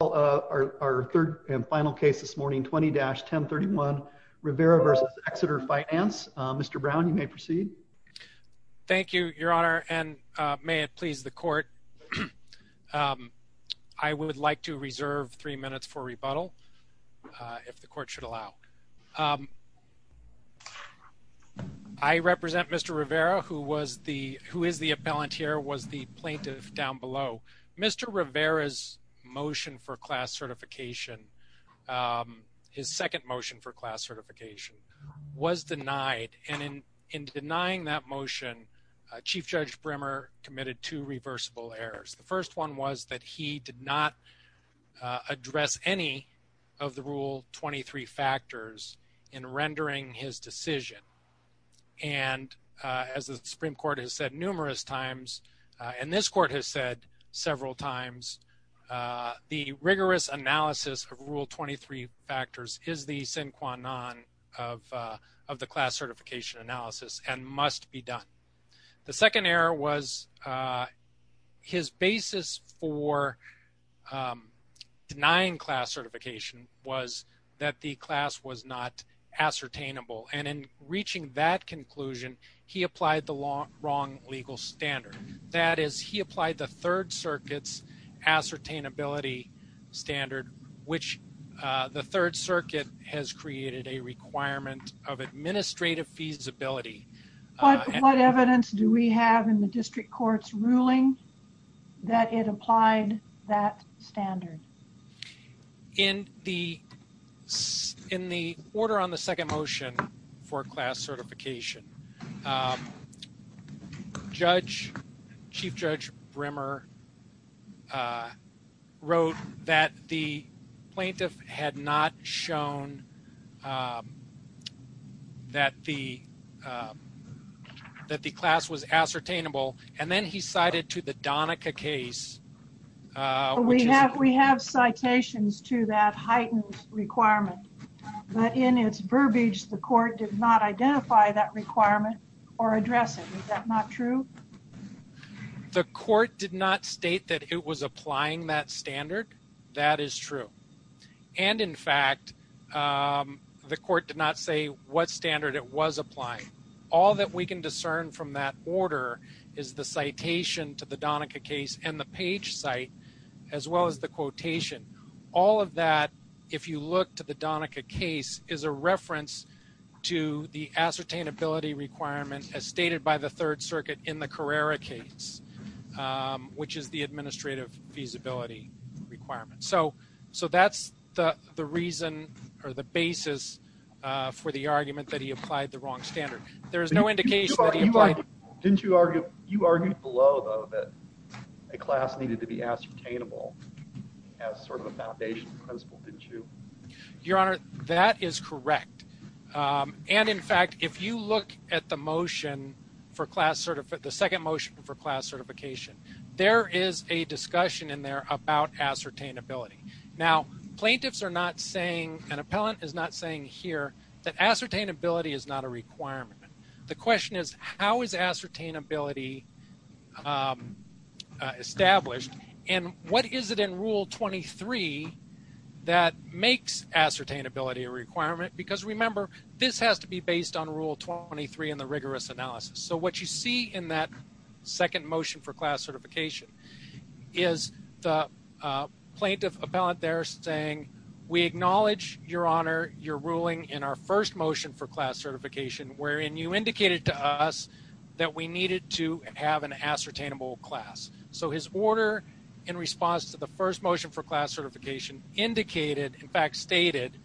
Well, our third and final case this morning, 20-1031 Rivera vs. Exeter Finance. Mr. Brown, you may proceed. Thank you, Your Honor. And may it please the court, I would like to reserve three minutes for rebuttal if the court should allow. I represent Mr. Rivera, who was the appellant here, was the plaintiff down below. Mr. Rivera's motion for class certification, his second motion for class certification, was denied. And in denying that motion, Chief Judge Brimmer committed two reversible errors. The first one was that he did not address any of the Rule 23 factors in rendering his decision. And as the Supreme Court has said, numerous times, and this Court has said several times, the rigorous analysis of Rule 23 factors is the sine qua non of the class certification analysis and must be done. The second error was his basis for denying class certification was that the class was not ascertainable. And in reaching that conclusion, he applied the wrong legal standard. That is, he applied the Third Circuit's ascertainability standard, which the Third Circuit has created a requirement of administrative feasibility. But what evidence do we have in the district court's ruling that it applied that standard? In the order on the second motion for class certification, Chief Judge Brimmer wrote that the plaintiff had not shown that the class was ascertainable. And then he cited to the Donica case. We have citations to that heightened requirement, but in its verbiage, the court did not identify that requirement or address it. Is that not true? The court did not state that it was applying that standard. That is true. And in fact, the court did not say what standard it was applying. All that we can discern from that order is the citation to the Donica case and the page site, as well as the quotation. All of that, if you look to the Donica case, is a reference to the ascertainability requirement as stated by the Third Circuit in the Carrera case, which is the administrative feasibility requirement. So that's the reason or the basis for the argument that he applied the wrong standard. There is no indication that he applied it. You argued below, though, that a class needed to be ascertainable as sort of a foundation principle, didn't you? Your Honor, that is correct. And in fact, if you look at the motion for class certification, the second motion for ascertainability. Now, plaintiffs are not saying, an appellant is not saying here, that ascertainability is not a requirement. The question is, how is ascertainability established? And what is it in Rule 23 that makes ascertainability a requirement? Because remember, this has to be based on Rule 23 in the rigorous analysis. So what you see in that second motion for class certification is the plaintiff appellant there saying, we acknowledge, Your Honor, your ruling in our first motion for class certification, wherein you indicated to us that we needed to have an ascertainable class. So his order in response to the first motion for class certification indicated, in fact stated,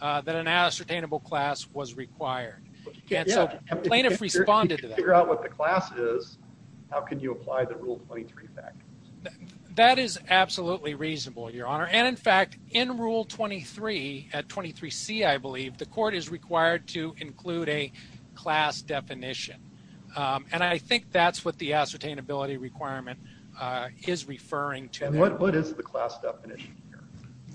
that an ascertainable class was required. Plaintiffs responded to that. If you figure out what the class is, how can you apply the Rule 23 factors? That is absolutely reasonable, Your Honor. And in fact, in Rule 23, at 23C, I believe, the court is required to include a class definition. And I think that's what the ascertainability requirement is referring to. What is the class definition here?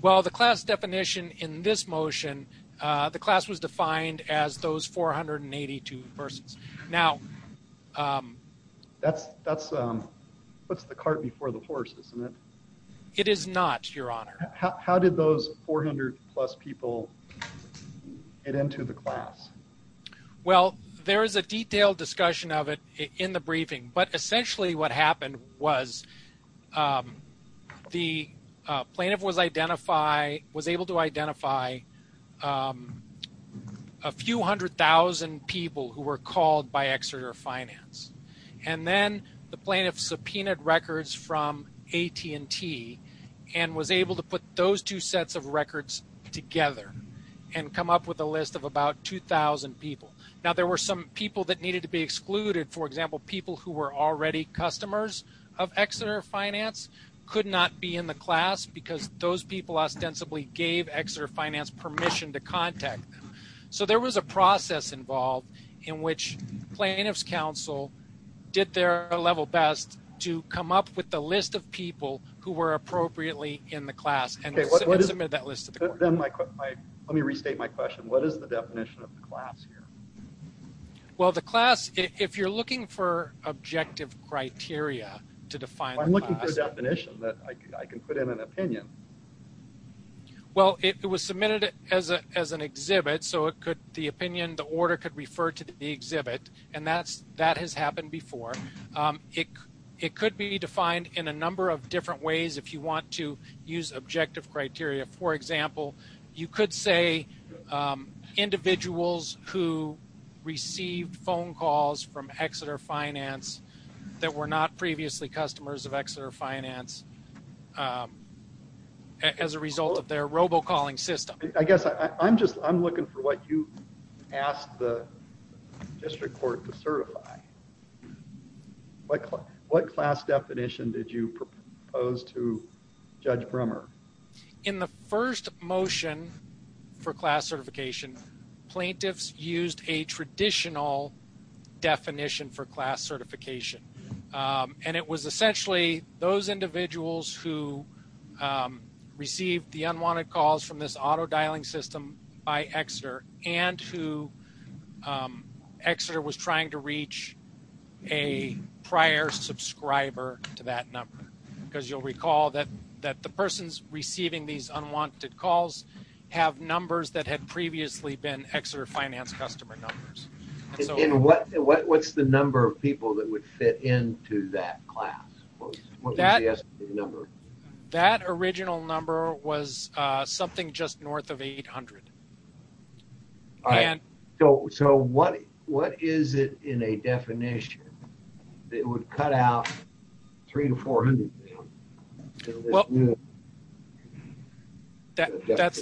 Well, the class definition in this motion, the class was defined as those 482 persons. Now, that's what's the cart before the horse, isn't it? It is not, Your Honor. How did those 400 plus people get into the class? Well, there is a detailed discussion of it in the briefing. But essentially what happened was the plaintiff was able to identify a few hundred thousand people who were called by Exeter Finance. And then the plaintiff subpoenaed records from AT&T and was able to put those two sets of records together and come up with a list of about 2,000 people. Now, there were some people that needed to be excluded. For example, people who were already customers of Exeter Finance could not be in the class because those people ostensibly gave Exeter Finance permission to contact them. So there was a process involved in which plaintiff's counsel did their level best to come up with the list of people who were appropriately in the class and submit that list to the court. Let me restate my question. What is the definition of the class here? Well, the class, if you're looking for objective criteria to define the class. I'm looking for a definition that I can put in an opinion. Well, it was submitted as an exhibit. So the opinion, the order could refer to the exhibit. And that has happened before. It could be defined in a number of different ways if you want to use objective criteria. For example, you could say individuals who received phone calls from Exeter Finance that were not previously customers of Exeter Finance as a result of their robocalling system. I guess I'm just I'm looking for what you asked the district court to certify. What what class definition did you propose to Judge Brummer? In the first motion for class certification, plaintiffs used a traditional definition for class certification, and it was essentially those individuals who received the unwanted calls from this auto dialing system by Exeter and who Exeter was trying to reach a prior subscriber to that number. Because you'll recall that that the persons receiving these unwanted calls have numbers that had previously been Exeter Finance customer numbers. And what what's the number of people that would fit into that class? What was the number? That original number was something just north of 800. All right. So what what is it in a definition that would cut out three to four hundred? That's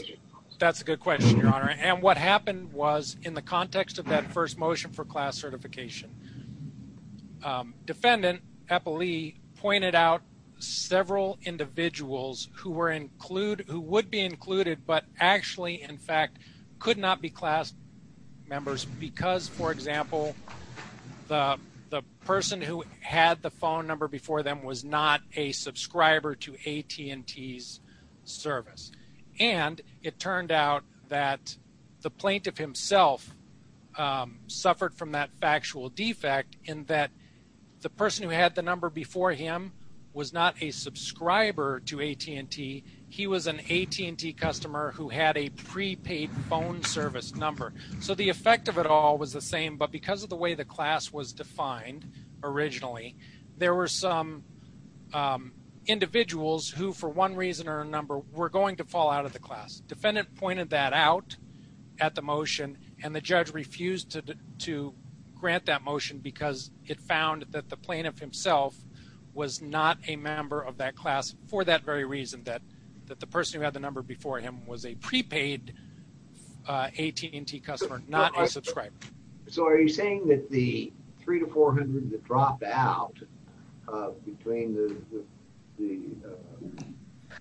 that's a good question, Your Honor. And what happened was in the context of that first motion for class certification, Defendant Eppley pointed out several individuals who were include who would be included, but actually, in fact, could not be class members because, for example, the the person who had the phone number before them was not a subscriber to AT&T's service. And it turned out that the plaintiff himself suffered from that factual defect in that the person who had the number before him was not a subscriber to AT&T. He was an AT&T customer who had a prepaid phone service number. So the effect of it all was the same. But because of the way the were going to fall out of the class. Defendant pointed that out at the motion and the judge refused to to grant that motion because it found that the plaintiff himself was not a member of that class for that very reason, that that the person who had the number before him was a prepaid AT&T customer, not a subscriber. So are you saying that the three to four hundred that dropped out between the the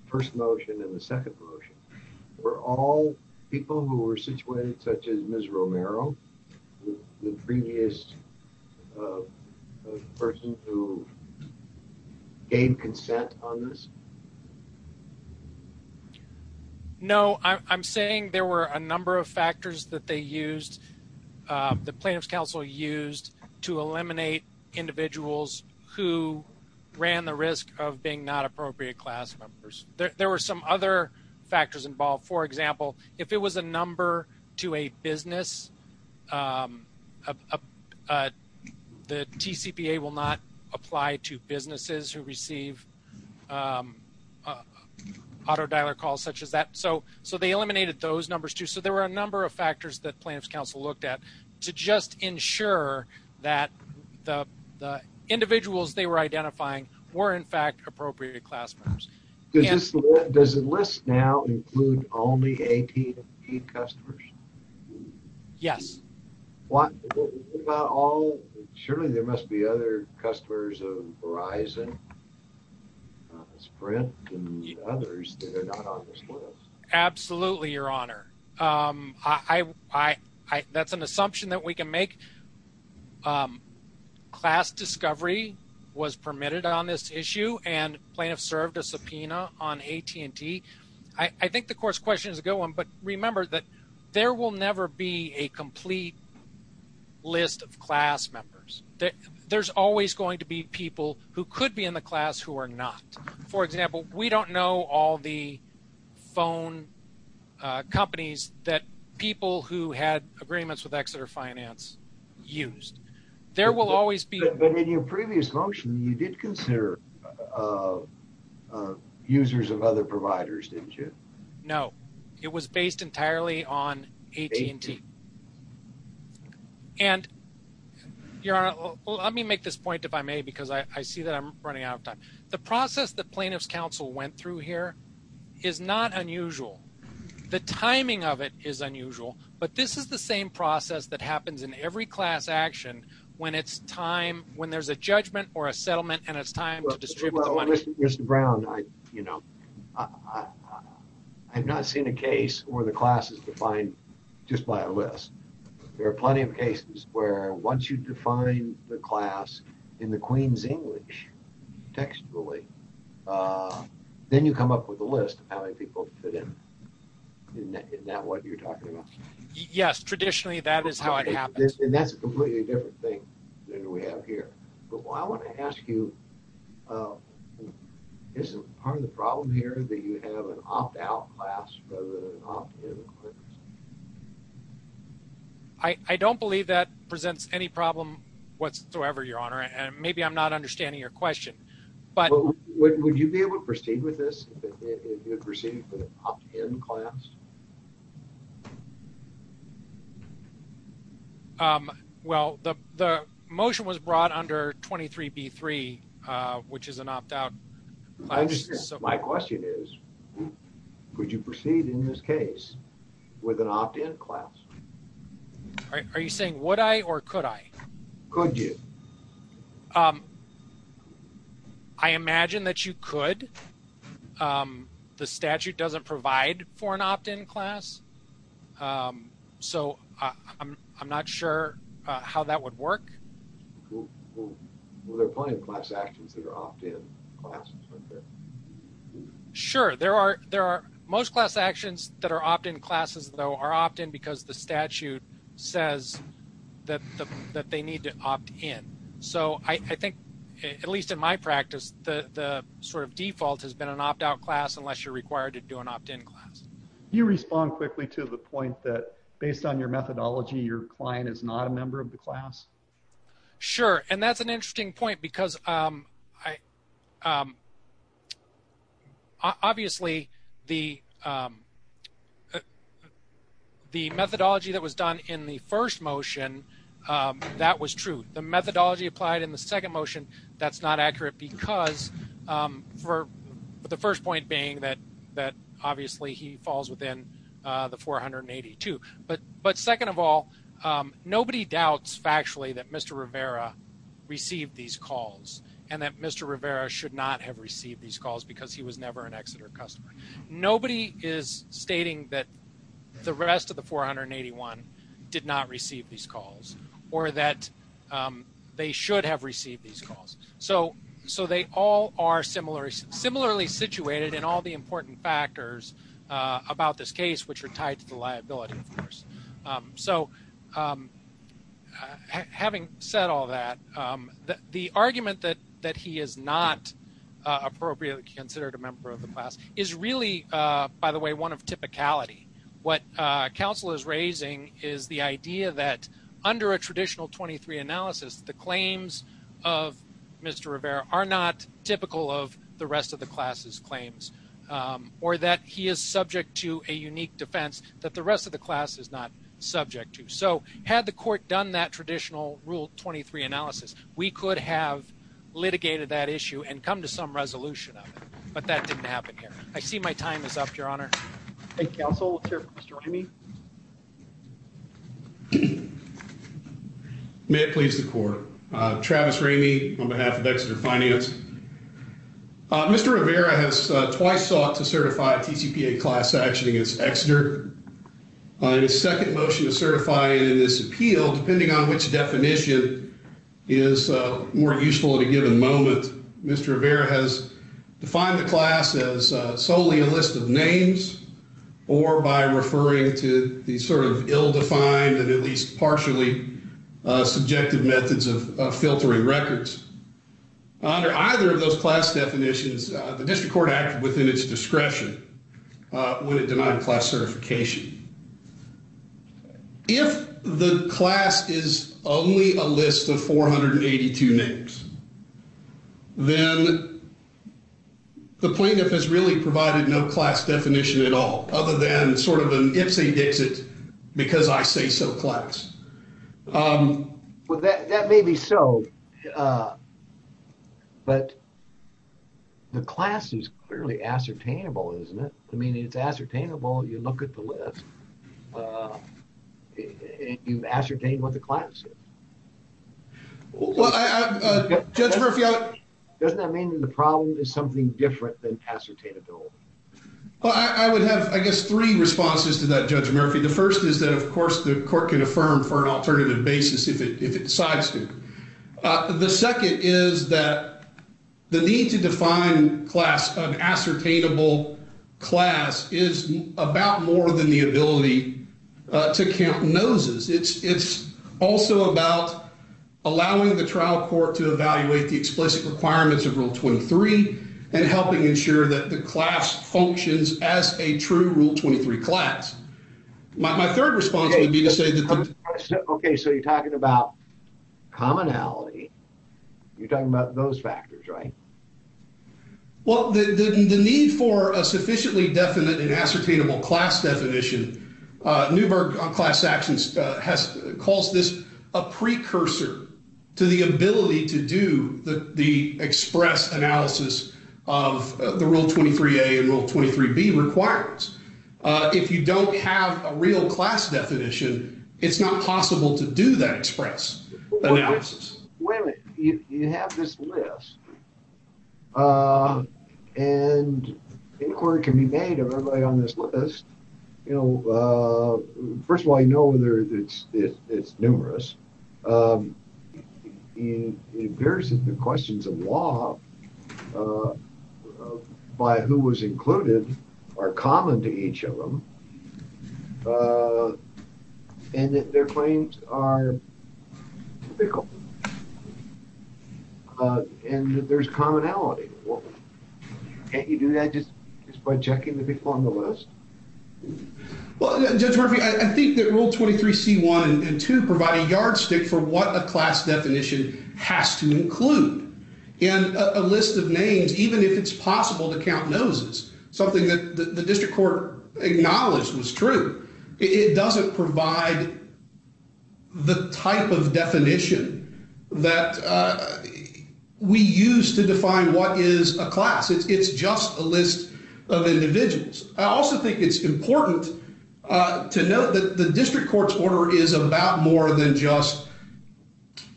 first motion and the second motion were all people who were situated, such as Ms. Romero, the previous person who gave consent on this? No, I'm saying there were a number of factors that they used, the plaintiff's counsel used to eliminate individuals who ran the risk of being not appropriate class members. There were some other factors involved. For example, if it was a number to a business, the TCPA will not apply to businesses who receive auto dialer calls such as that. So they eliminated those numbers too. So there were a number of factors involved to just ensure that the individuals they were identifying were in fact appropriate class members. Does the list now include only AT&T customers? Yes. Surely there must be other customers of Verizon, Sprint and others that are not on this list. Absolutely, Your Honor. That's an assumption that we can make. Class discovery was permitted on this issue and plaintiffs served a subpoena on AT&T. I think the course question is a good one, but remember that there will never be a complete list of class members. There's always going to be people who could be in the class who are not. For example, we don't know all the phone companies that people who had agreements with Exeter Finance used. But in your previous motion, you did consider users of other providers, didn't you? No, it was based entirely on AT&T. And Your Honor, let me make this point if I may, because I see that I'm running out of time. The process that plaintiffs counsel went through here is not unusual. The timing of it is unusual, but this is the same process that happens in every class action when there's a judgment or a settlement and it's time to distribute the money. Mr. Brown, I have not seen a case where the class is defined just by a list. There are plenty of cases where once you define the class in the Queen's English textually, then you come up with a list of how many people fit in. Isn't that what you're talking about? Yes, traditionally that is how it happens. And that's a completely different thing than we have here. But I want to ask you, is part of the problem here that you have an opt-out class rather than an opt-in class? I don't believe that presents any problem whatsoever, Your Honor, and maybe I'm not understanding your question. But would you be able to proceed with this if you proceed with an opt-in class? Well, the motion was brought under 23B3, which is an opt-out. My question is, could you proceed in this case with an opt-in class? Are you saying would I or could I? Could you? I imagine that you could. The statute doesn't provide for an opt-in class, so I'm not sure how that would work. Well, there are plenty of class actions that are opt-in classes, aren't there? Sure, there are. Most class actions that are opt-in classes, though, are opt-in because the statute says that they need to opt-in. So I think, at least in my practice, the sort of default has been an opt-out class unless you're required to do an opt-in class. Can you respond quickly to the point that based on your methodology, your client is not a member of the class? Sure, and that's an interesting point because obviously the methodology that was done in the first motion, that was true. The methodology applied in the second motion, that's not accurate because for the first point being that obviously he falls within the 482. But second of all, nobody doubts factually that Mr. Rivera received these calls and that Mr. Rivera should not have received these calls because he was never an Exeter customer. Nobody is stating that the rest of the 481 did not receive these calls or that they should have received these calls. So they all are similarly situated in all the important factors about this So having said all that, the argument that he is not appropriately considered a member of the class is really, by the way, one of typicality. What counsel is raising is the idea that under a traditional 23 analysis, the claims of Mr. Rivera are not typical of the rest of the class's claims or that he is subject to a unique defense that the rest of the class is not subject to. So had the court done that traditional rule 23 analysis, we could have litigated that issue and come to some resolution of it. But that didn't happen here. I see my time is up, Your Honor. Thank you, counsel. Let's hear from Mr. Ramey. May it please the court. Travis Ramey on behalf of Exeter Finance. Mr. Rivera has twice sought to certify a TCPA class action against Exeter. His second motion to certify in this appeal, depending on which definition, is more useful at a given moment. Mr. Rivera has defined the class as solely a list of names or by referring to these sort of ill-defined and at least partially subjective methods of filtering records. Under either of those class definitions, the district court acted within its discretion when it denied class certification. If the class is only a list of 482 names, then the plaintiff has really provided no class certification. That may be so. But the class is clearly ascertainable, isn't it? I mean, it's ascertainable. You look at the list. You ascertain what the class is. Doesn't that mean the problem is something different than ascertainability? Well, I would have, I guess, three responses to that, Judge Murphy. The first is that, of course, the court can affirm for an alternative basis if it decides to. The second is that the need to define class, an ascertainable class, is about more than the ability to count noses. It's also about allowing the trial court to evaluate the explicit requirements of Rule 23 and helping ensure that the class functions as a true Rule 23 class. My third response would be to say that... Okay, so you're talking about commonality. You're talking about those factors, right? Well, the need for a sufficiently definite and ascertainable class definition, Neuberg on class actions has called this a precursor to the ability to do the express analysis of the Rule 23a and Rule 23b requirements. If you don't have a real class definition, it's not possible to do that express analysis. Wait a minute. You have this list, and inquiry can be made of everybody on this list. First of all, I know it's numerous. It embarrasses the questions of law by who was included or common to each of them, and that their claims are typical, and that there's commonality. Can't you do that just by checking the people on the list? Well, Judge Murphy, I think that Rule 23c1 and 2 provide a yardstick for what a class definition has to include in a list of names, even if it's possible to count noses, something that the district court acknowledged was true. It doesn't provide the type of definition that we use to define what is a class. It's just a list of individuals. I also think it's important to note that the district court's order is about more than just,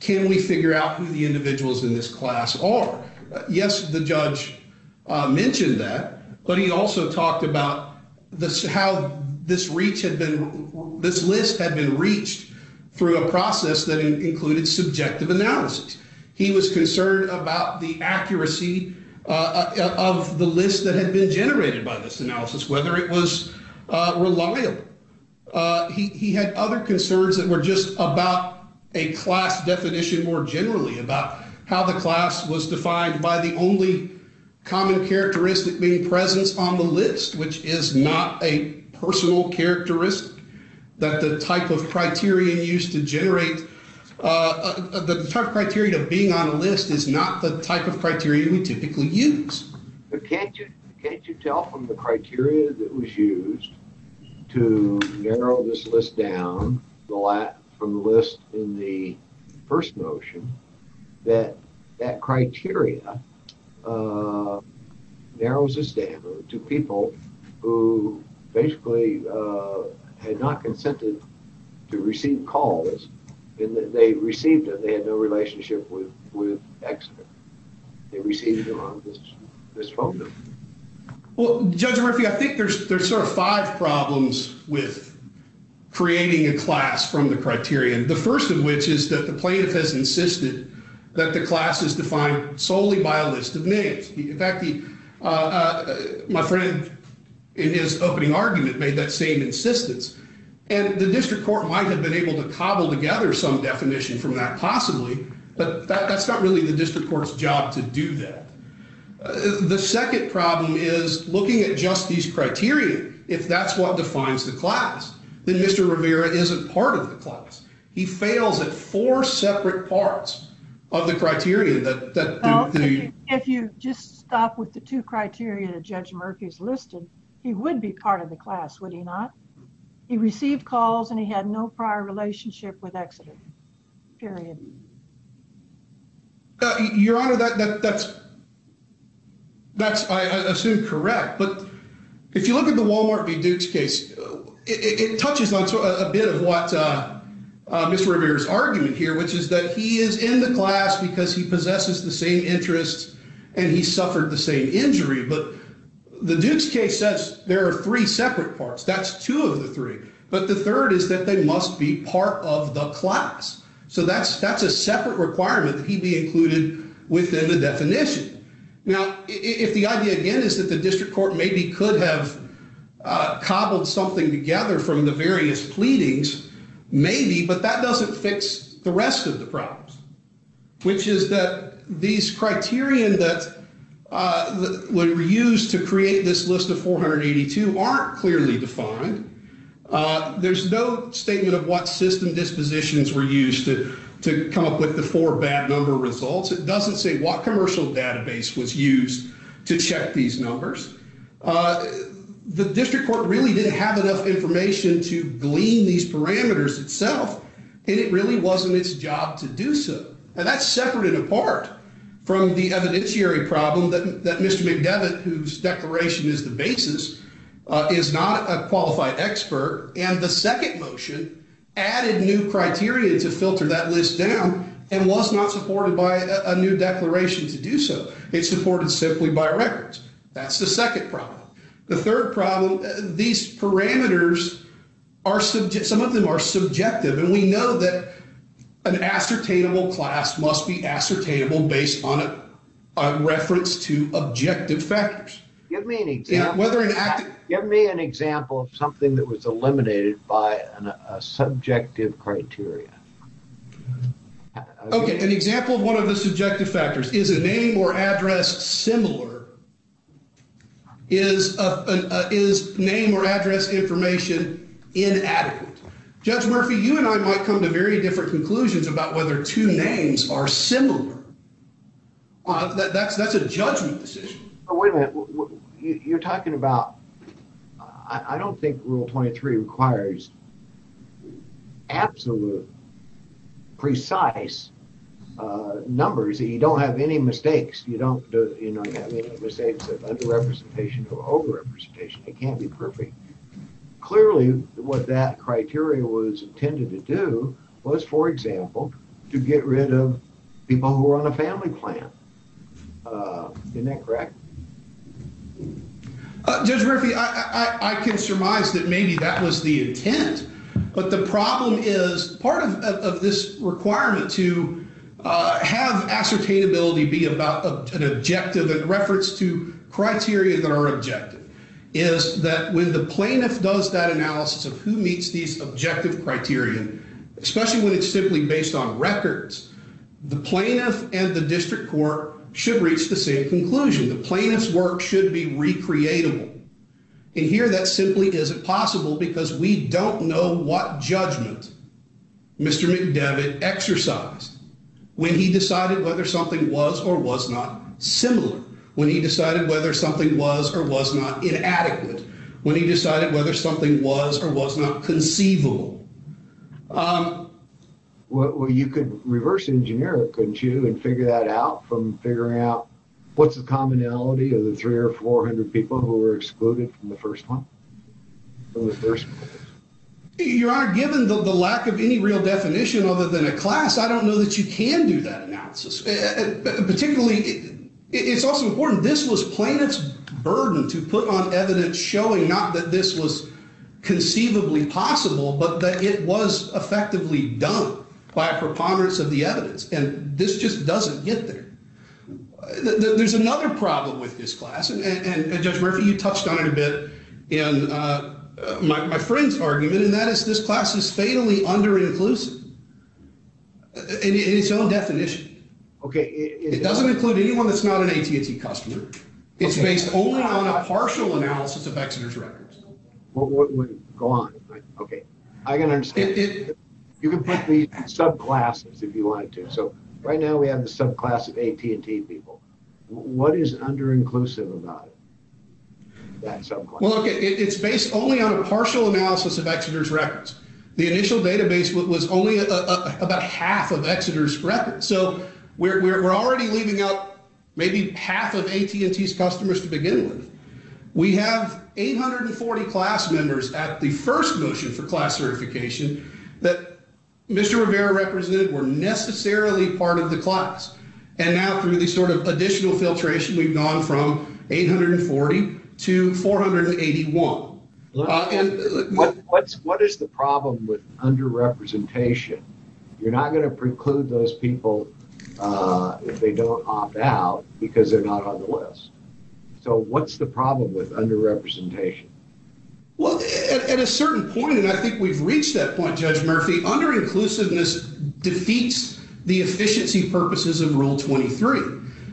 can we figure out who the individuals in this class are? Yes, the judge mentioned that, but he also talked about how this list had been reached through a process that included subjective analysis. He was concerned about the accuracy of the list that had been generated by this analysis, whether it was reliable. He had other concerns that were just about a class definition more generally, about how the class was defined by the only common characteristic being presence on the list, which is not a personal characteristic that the type of criterion used to generate the type of criterion of being on a list is not the type of criteria we typically use. But can't you tell from the criteria that was used to narrow this list down from the list in the first motion that that criteria narrows this down to people who basically had not consented to receive calls and that they received it, they had no relationship with Exeter. They received it on this phone number. Well, Judge Murphy, I think there's sort of five problems with creating a class from the criterion. The first of which is that the plaintiff has in his opening argument made that same insistence and the district court might have been able to cobble together some definition from that possibly, but that's not really the district court's job to do that. The second problem is looking at just these criteria. If that's what defines the class, then Mr. Rivera isn't part of the class. He fails at four separate parts of the criteria. If you just stop with the two criteria that Judge Murphy's listed, he would be part of the class, would he not? He received calls and he had no prior relationship with Exeter, period. Your Honor, that's I assume correct. But if you look at the Walmart v. Duke's case, it touches on a bit of what Mr. Rivera's argument here, which is that he is in the class because he possesses the same interests and he suffered the same injury. But the Duke's case says there are three separate parts. That's two of the three. But the third is that they must be part of the class. So that's a separate requirement that he be included within the definition. Now, if the idea again is that the district court maybe could have cobbled something together from the various pleadings, maybe, but that doesn't fix the rest of the problems, which is that these criterion that were used to create this list of 482 aren't clearly defined. There's no statement of what system dispositions were used to come up with the four bad number results. It doesn't say what commercial database was used to check these numbers. The district court really didn't have enough information to glean these parameters itself, and it really wasn't its job to do so. And that's separated apart from the evidentiary problem that Mr. McDevitt, whose declaration is the basis, is not a qualified expert. And the second motion added new criteria to filter that list down and was not supported by a new declaration to do so. It's supported simply by records. That's the second problem. The third problem, these parameters, some of them are subjective. And we know that an ascertainable class must be ascertainable based on reference to objective factors. Give me an example of something that was eliminated by a subjective criteria. Okay. An example of one of the subjective factors. Is a name or address similar? Is name or address information inadequate? Judge Murphy, you and I might come to very different conclusions about whether two names are similar. Well, that's a judgment decision. Wait a minute. You're talking about... I don't think Rule 23 requires absolute precise numbers. You don't have any mistakes. You don't have any mistakes of underrepresentation or overrepresentation. It can't be perfect. Clearly, what that criteria was intended to do was, for example, to get rid of people who are on a family plan. Isn't that correct? Judge Murphy, I can surmise that maybe that was the intent. But the problem is part of this requirement to have ascertainability be about an objective in reference to criteria that are subjective criteria. Especially when it's simply based on records. The plaintiff and the district court should reach the same conclusion. The plaintiff's work should be recreatable. And here that simply isn't possible because we don't know what judgment Mr. McDevitt exercised when he decided whether something was or was not similar. When he decided whether something was or was not conceivable. Well, you could reverse engineer it, couldn't you, and figure that out from figuring out what's the commonality of the three or four hundred people who were excluded from the first one? Your Honor, given the lack of any real definition other than a class, I don't know that you can do that analysis. Particularly, it's also important. This was plaintiff's burden to put on evidence showing not that this was conceivably possible, but that it was effectively done by a preponderance of the evidence. And this just doesn't get there. There's another problem with this class, and Judge Murphy, you touched on it a bit in my friend's argument, and that is this class is fatally under-inclusive in its own definition. It doesn't include anyone that's an AT&T customer. It's based only on a partial analysis of Exeter's records. Well, go on. Okay, I can understand. You can put the subclasses if you want to. So, right now we have the subclass of AT&T people. What is under-inclusive about it? Well, it's based only on a partial analysis of Exeter's records. The initial database was only about half of Exeter's records. So, we're already leaving out maybe half of AT&T's customers to begin with. We have 840 class members at the first motion for class certification that Mr. Rivera represented were necessarily part of the class. And now, through the sort of additional filtration, we've gone from 840 to 481. What is the problem with under-representation? You're not going to preclude those people if they don't opt out because they're not on the list. So, what's the problem with under-representation? Well, at a certain point, and I think we've reached that point, Judge Murphy, under-inclusiveness defeats the efficiency purposes of Rule 23.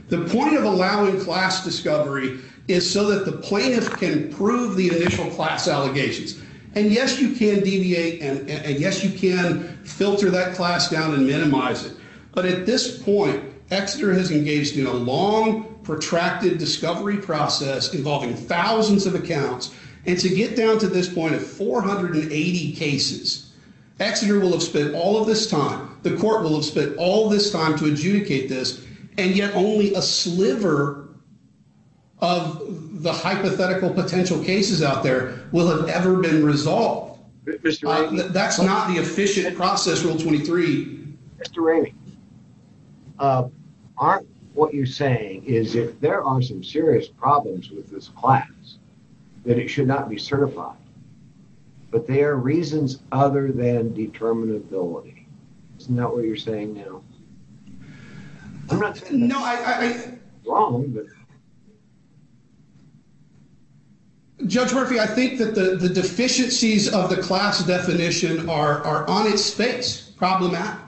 The point of allowing class discovery is so that the plaintiff can prove the initial class allegations. And yes, you can deviate, and yes, you can filter that class down and minimize it. But at this point, Exeter has engaged in a long, protracted discovery process involving thousands of accounts. And to get down to this point of 480 cases, Exeter will have spent all of this time, the court will have all this time to adjudicate this, and yet only a sliver of the hypothetical potential cases out there will have ever been resolved. That's not the efficient process, Rule 23. Mr. Ramey, aren't what you're saying is if there are some serious problems with this class, that it should not be certified? But they are reasons other than determinability. Isn't that what you're saying now? I'm not saying that. No, I... Judge Murphy, I think that the deficiencies of the class definition are on its face, problematic.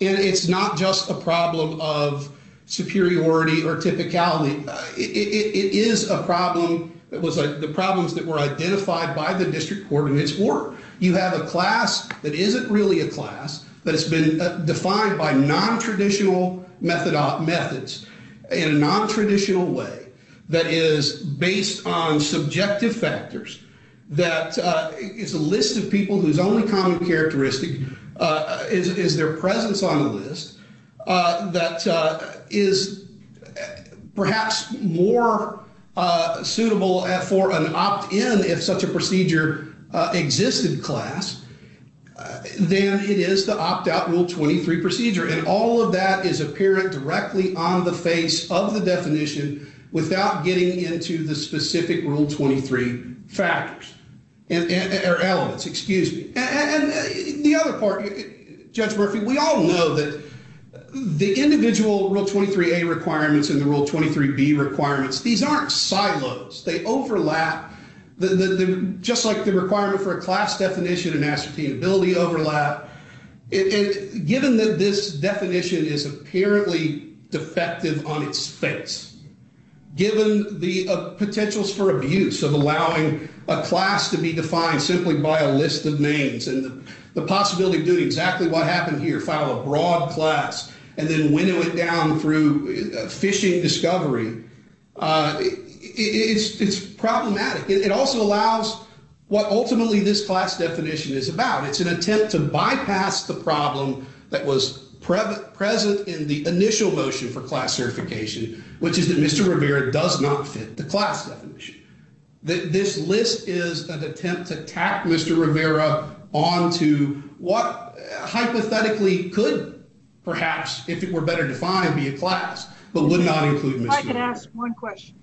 And it's not just a problem of superiority or typicality. It is a problem, it was like the problems that were identified by the district court in its work. You have a class that isn't really a class, that has been defined by non-traditional methods in a non-traditional way, that is based on subjective factors, that is a list of people whose only common characteristic is their presence on the list, that is perhaps more suitable for an opt-in if such a procedure exists in class, than it is the opt-out Rule 23 procedure. And all of that is apparent directly on the face of the definition without getting into the specific Rule 23 factors, or elements, excuse me. And the other part, Judge Murphy, we all know that the individual Rule 23a requirements and the Rule 23b requirements, these aren't silos, they overlap, just like the requirement for a class definition and ascertainability overlap. And given that this definition is apparently defective on its face, given the potentials for abuse of allowing a class to be defined simply by a list of names, and the possibility of doing exactly what happened here, file a broad class, and then winnow it down through phishing discovery, it's problematic. It also allows what ultimately this class definition is about. It's an attempt to bypass the problem that was present in the initial motion for class certification, which is that Mr. Rivera does not fit the class definition. This list is an attempt to tack Mr. Rivera onto what hypothetically could perhaps, if it were better defined, be a class, but would not include Mr. Rivera. If I could ask one question.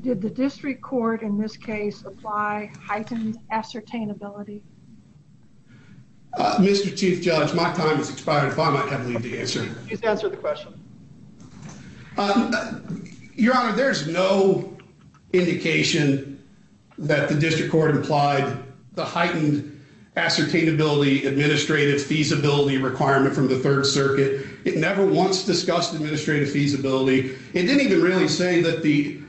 Did the district court in this case apply heightened ascertainability? Mr. Chief Judge, my time has expired. If I might have a lead to answer. Please answer the question. Your Honor, there's no indication that the district court implied the heightened ascertainability administrative feasibility requirement from the Third Circuit. It never once discussed administrative feasibility. It didn't even really say that the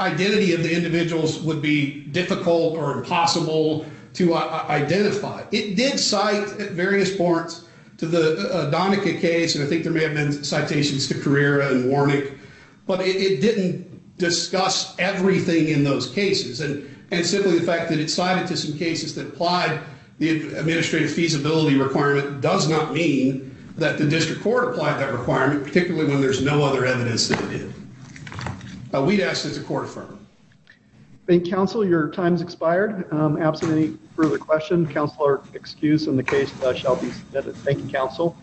identity of the individuals would be difficult or impossible to identify. It did cite at various points to the Donica case, and I think there may have been citations to Carrera and Warnick, but it didn't discuss everything in those cases. And simply the fact that it cited to some cases that applied the administrative feasibility requirement does not mean that the district court applied that requirement, particularly when there's no other evidence that it did. We'd ask that the court affirm. Thank you, counsel. Your time has expired. Absent any further questions, counsel are excused, and the case shall be submitted. Thank you, counsel.